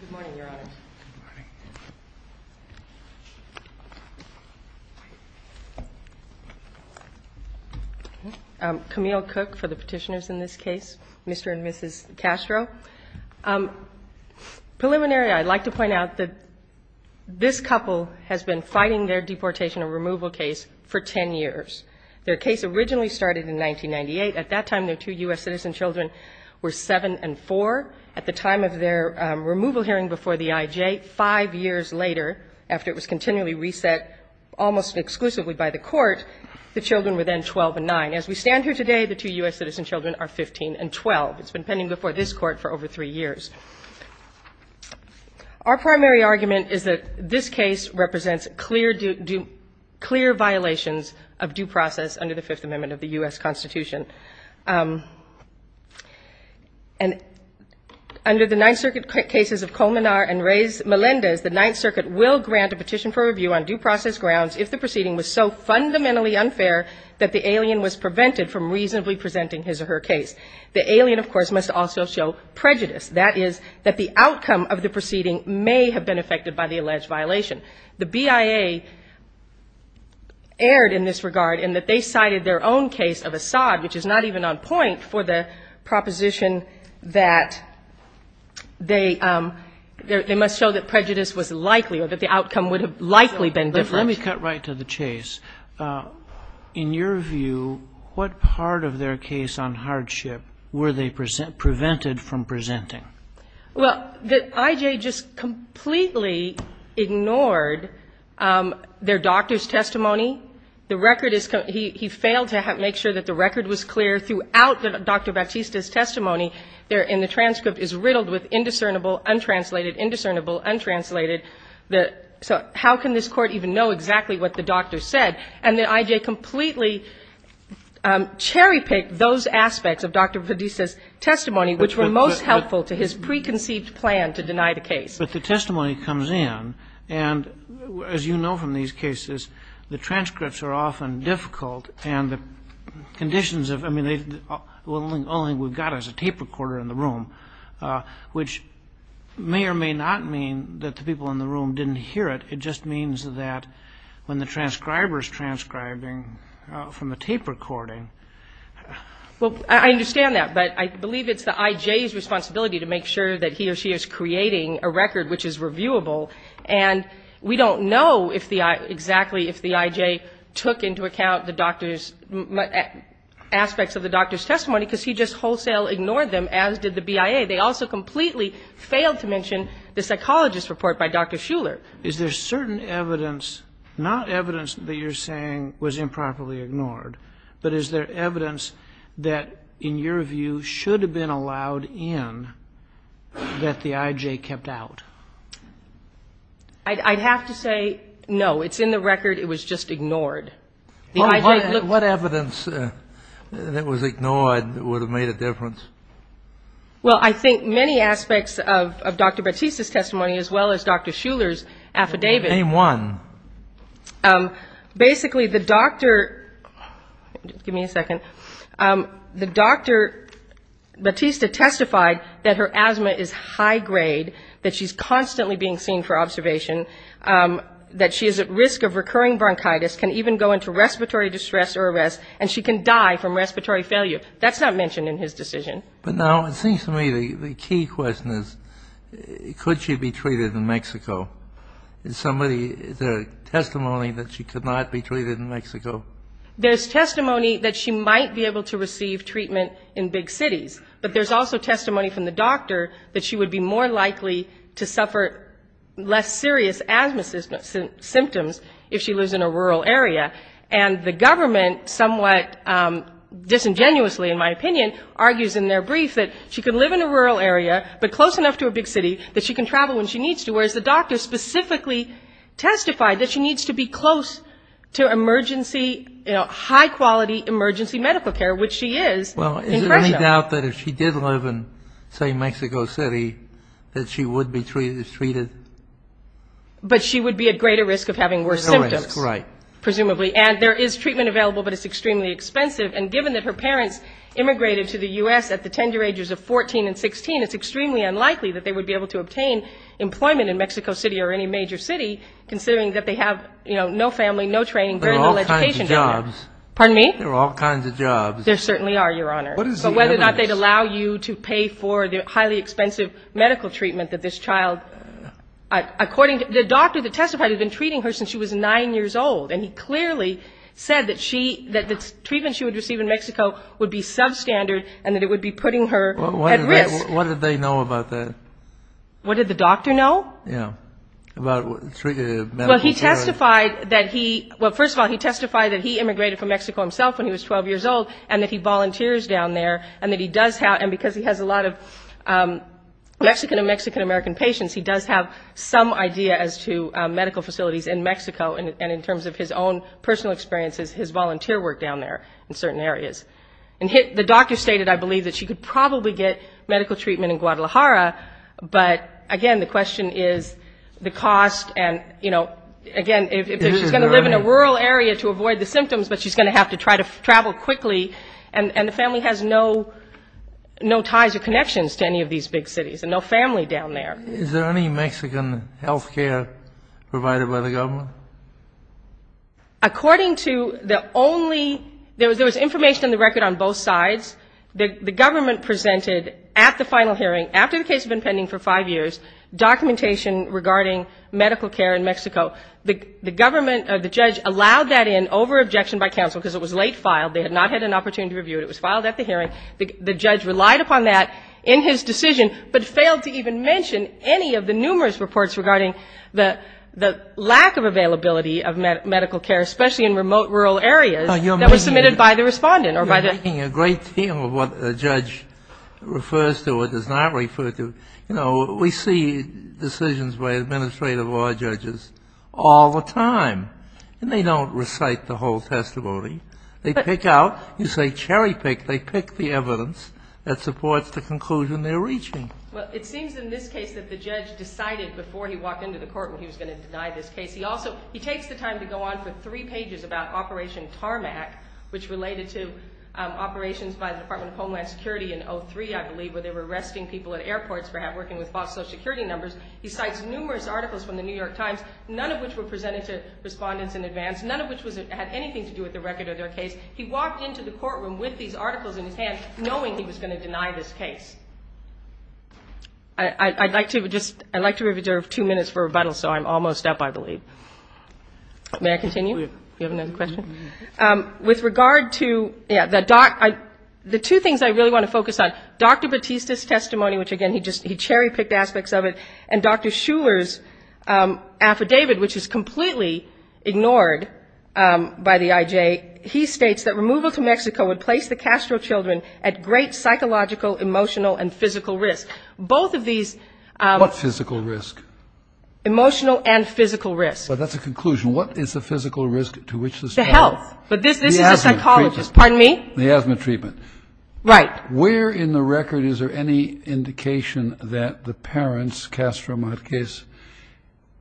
Good morning, Your Honors. Good morning. Camille Cook for the petitioners in this case, Mr. and Mrs. Castro. Preliminary, I'd like to point out that this couple has been fighting their deportation and removal case for 10 years. Their case originally started in 1998. At that time, their two U.S. citizen children were 7 and 4. At the time of their removal hearing before the I.J., 5 years later, after it was continually reset almost exclusively by the Court, the children were then 12 and 9. As we stand here today, the two U.S. citizen children are 15 and 12. It's been pending before this Court for over 3 years. Our primary argument is that this case represents clear violations of due process under the Fifth Amendment of the U.S. Constitution. And under the Ninth Circuit cases of Colmenar and Melendez, the Ninth Circuit will grant a petition for review on due process grounds if the proceeding was so fundamentally unfair that the alien was prevented from reasonably presenting his or her case. The alien, of course, must also show prejudice. That is, that the outcome of the proceeding may have been affected by the decided their own case of Assad, which is not even on point for the proposition that they must show that prejudice was likely or that the outcome would have likely been different. Let me cut right to the chase. In your view, what part of their case on hardship were they prevented from presenting? Well, the I.J. just completely ignored their doctor's testimony. The record is he failed to make sure that the record was clear throughout Dr. Bautista's testimony. And the transcript is riddled with indiscernible, untranslated, indiscernible, untranslated. So how can this Court even know exactly what the doctor said? And the I.J. completely cherry-picked those aspects of Dr. Bautista's preconceived plan to deny the case. But the testimony comes in, and as you know from these cases, the transcripts are often difficult, and the conditions of them, I mean, the only thing we've got is a tape recorder in the room, which may or may not mean that the people in the room didn't hear it. It just means that when the transcriber's transcribing from a tape recording Well, I understand that. But I believe it's the I.J.'s responsibility to make sure that he or she is creating a record which is reviewable. And we don't know exactly if the I.J. took into account the doctor's aspects of the doctor's testimony, because he just wholesale ignored them, as did the BIA. They also completely failed to mention the psychologist's report by Dr. Schuller. Is there certain evidence, not evidence that you're saying was improperly ignored, but is there certain evidence that you're saying is there evidence that, in your view, should have been allowed in that the I.J. kept out? I'd have to say no. It's in the record. It was just ignored. What evidence that was ignored would have made a difference? Well, I think many aspects of Dr. Batiste's testimony, as well as Dr. Schuller's affidavit Name one. Basically, the doctor... Give me a second. The doctor, Batiste, testified that her asthma is high-grade, that she's constantly being seen for observation, that she is at risk of recurring bronchitis, can even go into respiratory distress or arrest, and she can die from respiratory failure. That's not mentioned in his decision. But now it seems to me the key question is, could she be treated in Mexico? Is there testimony that she could not be treated in Mexico? There's testimony that she might be able to receive treatment in big cities, but there's also testimony from the doctor that she would be more likely to suffer less serious asthma symptoms if she lives in a rural area. And the government somewhat disingenuously, in my opinion, argues in their brief that she could live in a rural area, but close enough to a big city that she can travel when she needs to, whereas the doctor specifically testified that she needs to be close to emergency, high-quality emergency medical care, which she is in Fresno. Well, is there any doubt that if she did live in, say, Mexico City, that she would be treated? But she would be at greater risk of having worse symptoms. That's right. Presumably. And there is treatment available, but it's extremely expensive. And given that her parents immigrated to the U.S. at the tender ages of 14 and 16, it's extremely unlikely that they would be able to obtain employment in Mexico City or any major city, considering that they have, you know, no family, no training, very little education down there. There are all kinds of jobs. Pardon me? There are all kinds of jobs. There certainly are, Your Honor. But whether or not they'd allow you to pay for the highly expensive medical treatment that this child, according to the doctor that testified, had been treating her since she was 9 years old. And he clearly said that she, that the treatment she would receive in Mexico would be substandard and that it would be putting her at risk. What did they know about that? What did the doctor know? Yeah. About medical care. Well, he testified that he, well, first of all, he testified that he immigrated from Mexico himself when he was 12 years old and that he volunteers down there and that he does have, and because he has a lot of Mexican and Mexican-American patients, he does have some idea as to medical facilities in Mexico and in terms of his own personal experiences, his volunteer work down there in certain areas. And the doctor stated, I believe, that she could probably get medical treatment in Guadalajara, but again, the question is the cost and, you know, again, if she's going to live in a rural area to avoid the symptoms, but she's going to have to try to travel quickly, and the family has no ties or connections to any of these big cities and no family down there. Is there any Mexican health care provided by the government? According to the only, there was information on the record on both sides. The government presented at the final hearing, after the case had been pending for five years, documentation regarding medical care in Mexico. The government or the judge allowed that in over objection by counsel because it was late filed. They had not had an opportunity to review it. It was filed at the hearing. The judge relied upon that in his decision, but failed to even mention any of the numerous reports regarding the lack of availability of medical care, especially in remote rural areas that were submitted by the respondent or by the... You're making a great deal of what a judge refers to or does not refer to. We see decisions by administrative law judges all the time, and they don't recite the whole testimony. They pick out. You say cherry pick. They pick the evidence that supports the conclusion they're reaching. Well, it seems in this case that the judge decided before he walked into the court when he was going to deny this case. He also, he takes the time to go on for three pages about Operation Tarmac, which related to operations by the Department of Homeland Security in 03, I believe, where they were arresting people at airports for working with false social security numbers. He cites numerous articles from the New York Times, none of which were presented to respondents in advance, none of which had anything to do with the record of their case. He walked into the courtroom with these articles in his hand knowing he was going to deny this case. I'd like to reserve two minutes for rebuttal, so I'm almost up, I believe. May I continue? You have another question? With regard to, yeah, the two things I really want to focus on, Dr. Batista's testimony, which again, he cherry picked aspects of it, and Dr. Shuler's affidavit, which is completely ignored by the IJ, he states that removal to Mexico would place the Castro children at great psychological, emotional, and physical risk. Both of these... What physical risk? Emotional and physical risk. But that's a conclusion. What is the physical risk to which this... To health. But this is a psychologist. The asthma treatment. Pardon me? The asthma treatment. Right. Where in the record is there any indication that the parents, Castro Marquez,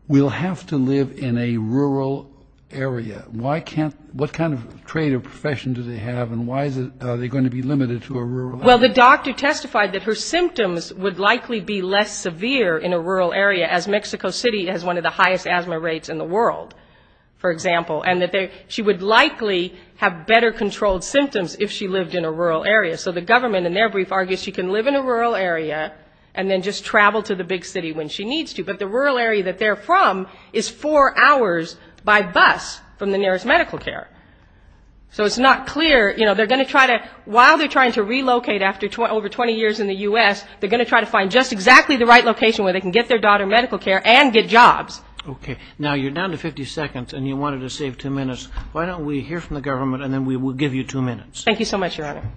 will have to live in a rural area? What kind of trade or profession do they have, and why are they going to be limited to a rural area? Well, the doctor testified that her symptoms would likely be less severe in a rural area, as Mexico City has one of the highest asthma rates in the world, for example, and that she would likely have better controlled symptoms if she lived in a rural area. So the government, in their brief, argues she can live in a rural area and then just travel to the big city when she needs to. But the rural area that they're from is four hours by bus from the nearest medical care. So it's not clear. They're going to try to... While they're trying to relocate after over 20 years in the U.S., they're going to try to find just exactly the right location where they can get their daughter medical care and get jobs. Okay. Now, you're down to 50 seconds, and you wanted to save two minutes. Why don't we hear from the government, and then we will give you two minutes. Thank you so much, Your Honor.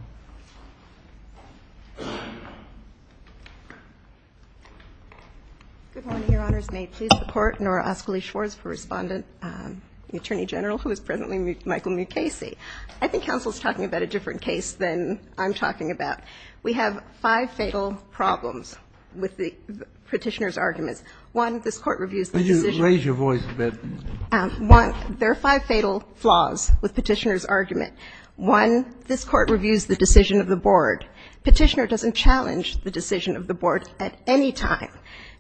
Good morning, Your Honors. May it please the Court, Nora Ascoli Schwarz for Respondent, the Attorney General, who is presently Michael Mukasey. I think counsel's talking about a different case than I'm talking about. We have five fatal problems with the petitioner's arguments. One, this Court reviews the decision... Could you raise your voice a bit? One, there are five fatal flaws with petitioner's argument. One, this Court reviews the decision of the board. Petitioner doesn't challenge the decision of the board at any time.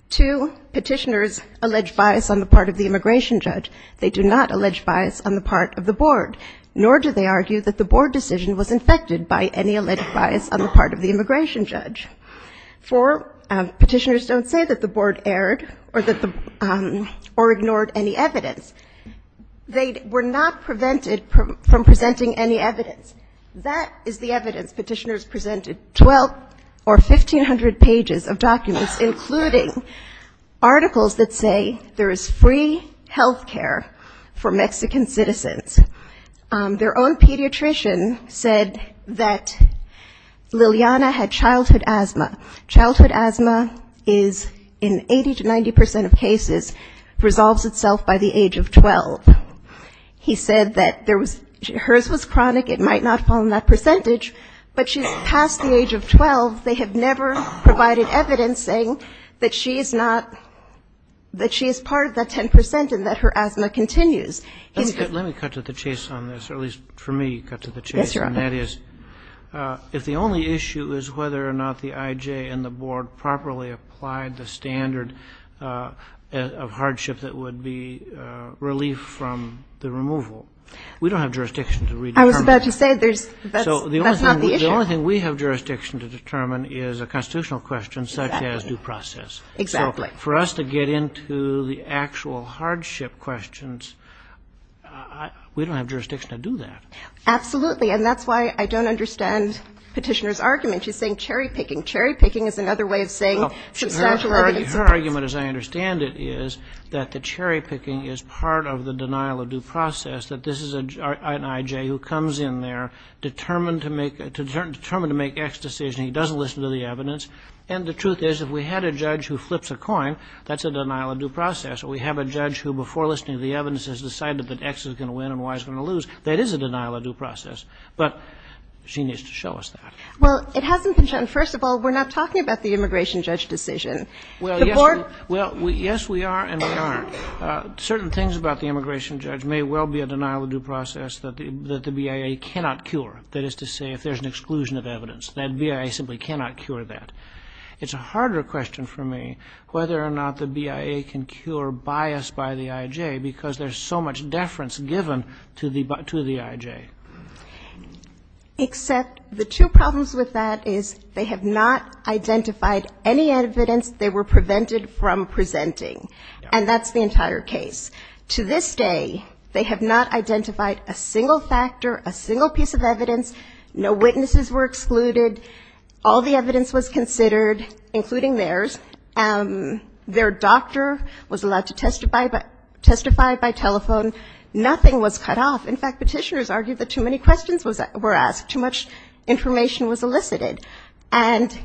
Two, petitioners allege bias on the part of the immigration judge. They do not allege bias on the part of the board, nor do they argue that the board decision was infected by any alleged bias on the part of the immigration judge. Four, petitioners don't say that the board erred or ignored any evidence. They were not prevented from presenting any evidence. That is the evidence petitioners presented, twelve or fifteen hundred pages of documents, including articles that say there is free health care for Mexican citizens. Their own pediatrician said that Liliana had childhood asthma. Childhood asthma is, in 80 to 90% of cases, resolves itself by the age of 12. He said that hers was chronic, it might not fall in that percentage, but she's past the age of 12. They have never provided evidence saying that she is not, that she is part of that 10% and that her asthma continues. Let me cut to the chase on this, or at least for me cut to the chase. Yes, Your Honor. And that is, if the only issue is whether or not the IJ and the board properly applied the standard of hardship that would be relief from the removal, we don't have jurisdiction to redetermine that. I was about to say, that's not the issue. The only thing we have jurisdiction to determine is a constitutional question such as due process. Exactly. For us to get into the actual hardship questions, we don't have jurisdiction to do that. Absolutely. And that's why I don't understand Petitioner's argument. She's saying cherry picking. Cherry picking is another way of saying substantial evidence. Her argument, as I understand it, is that the cherry picking is part of the denial of due process, that this is an IJ who comes in there determined to make X decision. He doesn't listen to the evidence. And the truth is, if we had a judge who flips a coin, that's a denial of due process. Or we have a judge who, before listening to the evidence, has decided that X is going to win and Y is going to lose, that is a denial of due process. But she needs to show us that. Well, it hasn't been shown. First of all, we're not talking about the immigration judge decision. Well, yes, we are and we aren't. Certain things about the immigration judge may well be a denial of due process that the BIA cannot cure. That is to say, if there's an exclusion of evidence, that BIA simply cannot cure that. It's a harder question for me whether or not the BIA can cure bias by the IJ, because there's so much deference given to the IJ. Except the two problems with that is they have not identified any evidence they were prevented from presenting. And that's the entire case. To this day, they have not identified a single factor, a single piece of evidence, no witnesses were excluded, all the evidence was considered, including theirs. Their doctor was allowed to testify by telephone. Nothing was cut off. In fact, petitioners argued that too many questions were asked, too much information was elicited. And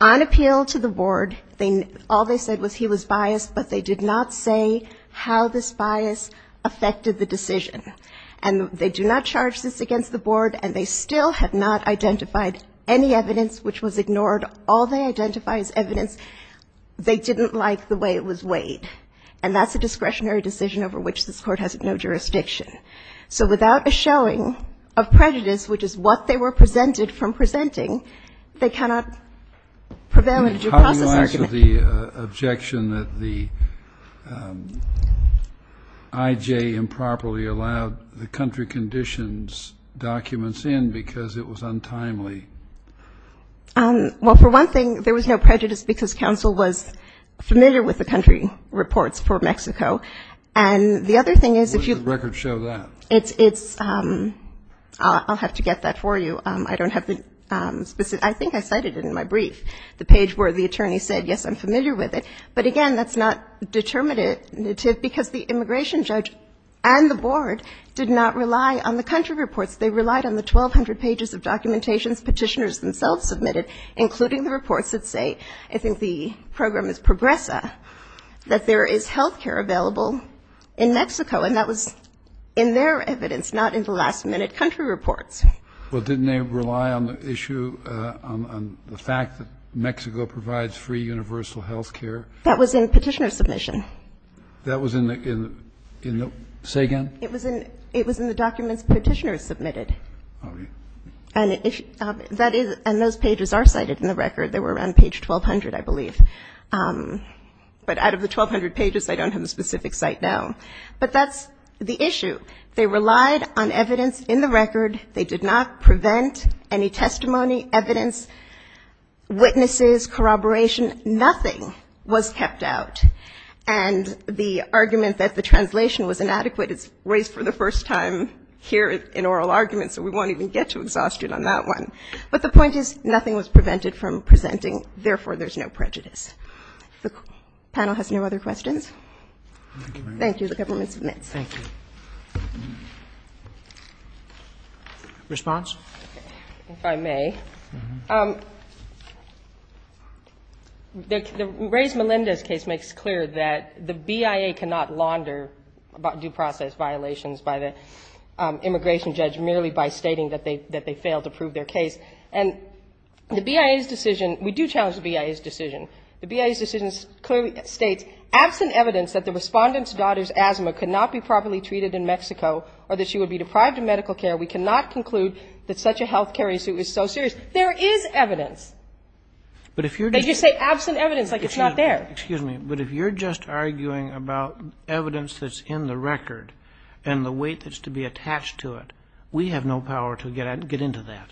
on appeal to the board, all they said was he was biased, but they did not say how this bias affected the decision. And they do not charge this against the board, and they still have not identified any evidence which was ignored. All they identify is evidence they didn't like the way it was weighed. And that's a discretionary decision over which this Court has no jurisdiction. So without a showing of prejudice, which is what they were presented from presenting, they cannot prevail in a due process argument. I have the objection that the I.J. improperly allowed the country conditions documents in because it was untimely. Well, for one thing, there was no prejudice because counsel was familiar with the country reports for Mexico. And the other thing is if you... Where does the record show that? I'll have to get that for you. I think I cited it in my brief. The page where the attorney said, yes, I'm familiar with it. But again, that's not determinative because the immigration judge and the board did not rely on the country reports. They relied on the 1,200 pages of documentations petitioners themselves submitted, including the reports that say, I think the program is Progresa, that there is health care available in Mexico. And that was in their evidence, not in the last-minute country reports. Well, didn't they rely on the issue, on the fact that Mexico provides free universal health care? That was in petitioner submission. Say again? It was in the documents petitioners submitted. And those pages are cited in the record. They were on page 1,200, I believe. But out of the 1,200 pages, I don't have a specific site now. But that's the issue. They relied on evidence in the record. They did not prevent any testimony, evidence, witnesses, corroboration. Nothing was kept out. And the argument that the translation was inadequate is raised for the first time here in oral arguments, so we won't even get to exhaustion on that one. But the point is, nothing was prevented from presenting. Therefore, there's no prejudice. The panel has no other questions? Thank you, the government submits. Thank you. Response? If I may. The Reyes-Melendez case makes clear that the BIA cannot launder due process violations by the immigration judge merely by stating that they failed to prove their case. And the BIA's decision, we do challenge the BIA's decision. The BIA's decision clearly states, absent evidence that the respondent's daughter's asthma could not be properly treated in Mexico or that she would be deprived of medical care, we cannot conclude that such a health care issue is so serious. There is evidence. They just say absent evidence like it's not there. Excuse me, but if you're just arguing about evidence that's in the record and the weight that's to be attached to it, we have no power to get into that.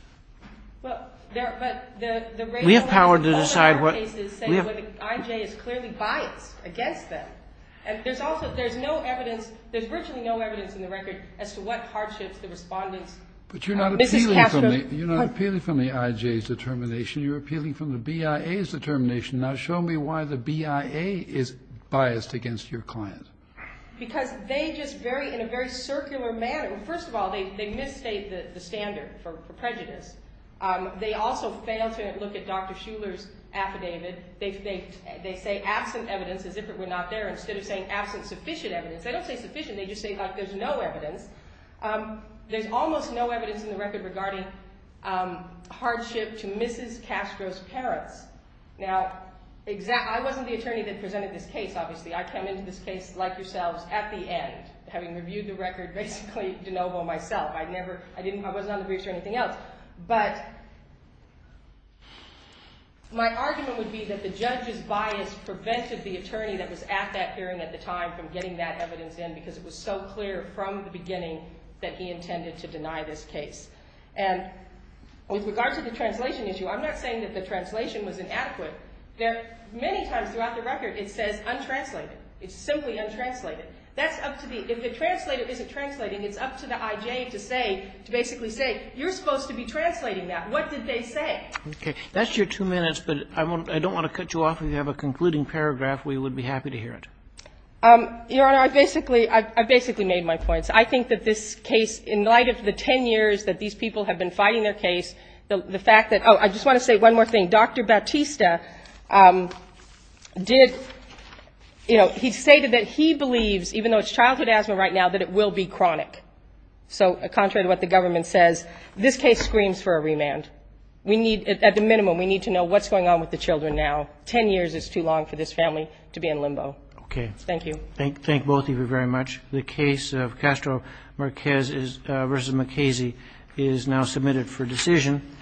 We have power to decide what... I.J. is clearly biased against them. There's virtually no evidence in the record as to what hardships the respondent's... But you're not appealing from the I.J.'s determination. You're appealing from the BIA's determination. Now show me why the BIA is biased against your client. Because they just very, in a very circular manner... First of all, they misstate the standard for prejudice. They also fail to look at Dr. Shuler's affidavit. They say absent evidence as if it were not there instead of saying absent sufficient evidence. They don't say sufficient, they just say like there's no evidence. There's almost no evidence in the record regarding hardship to Mrs. Castro's parents. Now, I wasn't the attorney that presented this case, obviously. I came into this case like yourselves at the end, having reviewed the record basically de novo myself. I wasn't on the briefs or anything else. But my argument would be that the judge's bias prevented the attorney that was at that hearing at the time from getting that evidence in because it was so clear from the beginning that he intended to deny this case. And with regard to the translation issue, I'm not saying that the translation was inadequate. Many times throughout the record it says untranslated. It's simply untranslated. If the translator isn't translating, it's up to the I.J. to basically say, you're supposed to be translating that. What did they say? That's your two minutes, but I don't want to cut you off. If you have a concluding paragraph, we would be happy to hear it. Your Honor, I basically made my points. I think that this case, in light of the ten years that these people have been fighting their case, the fact that, oh, I just want to say one more thing. Dr. Bautista, he stated that he believes, even though it's childhood asthma right now, that it will be chronic. So contrary to what the government says, this case screams for a remand. At the minimum, we need to know what's going on with the children now. Ten years is too long for this family to be in limbo. Thank you. Thank both of you very much. The case of Castro-Márquez v. MacKenzie is now submitted for decision.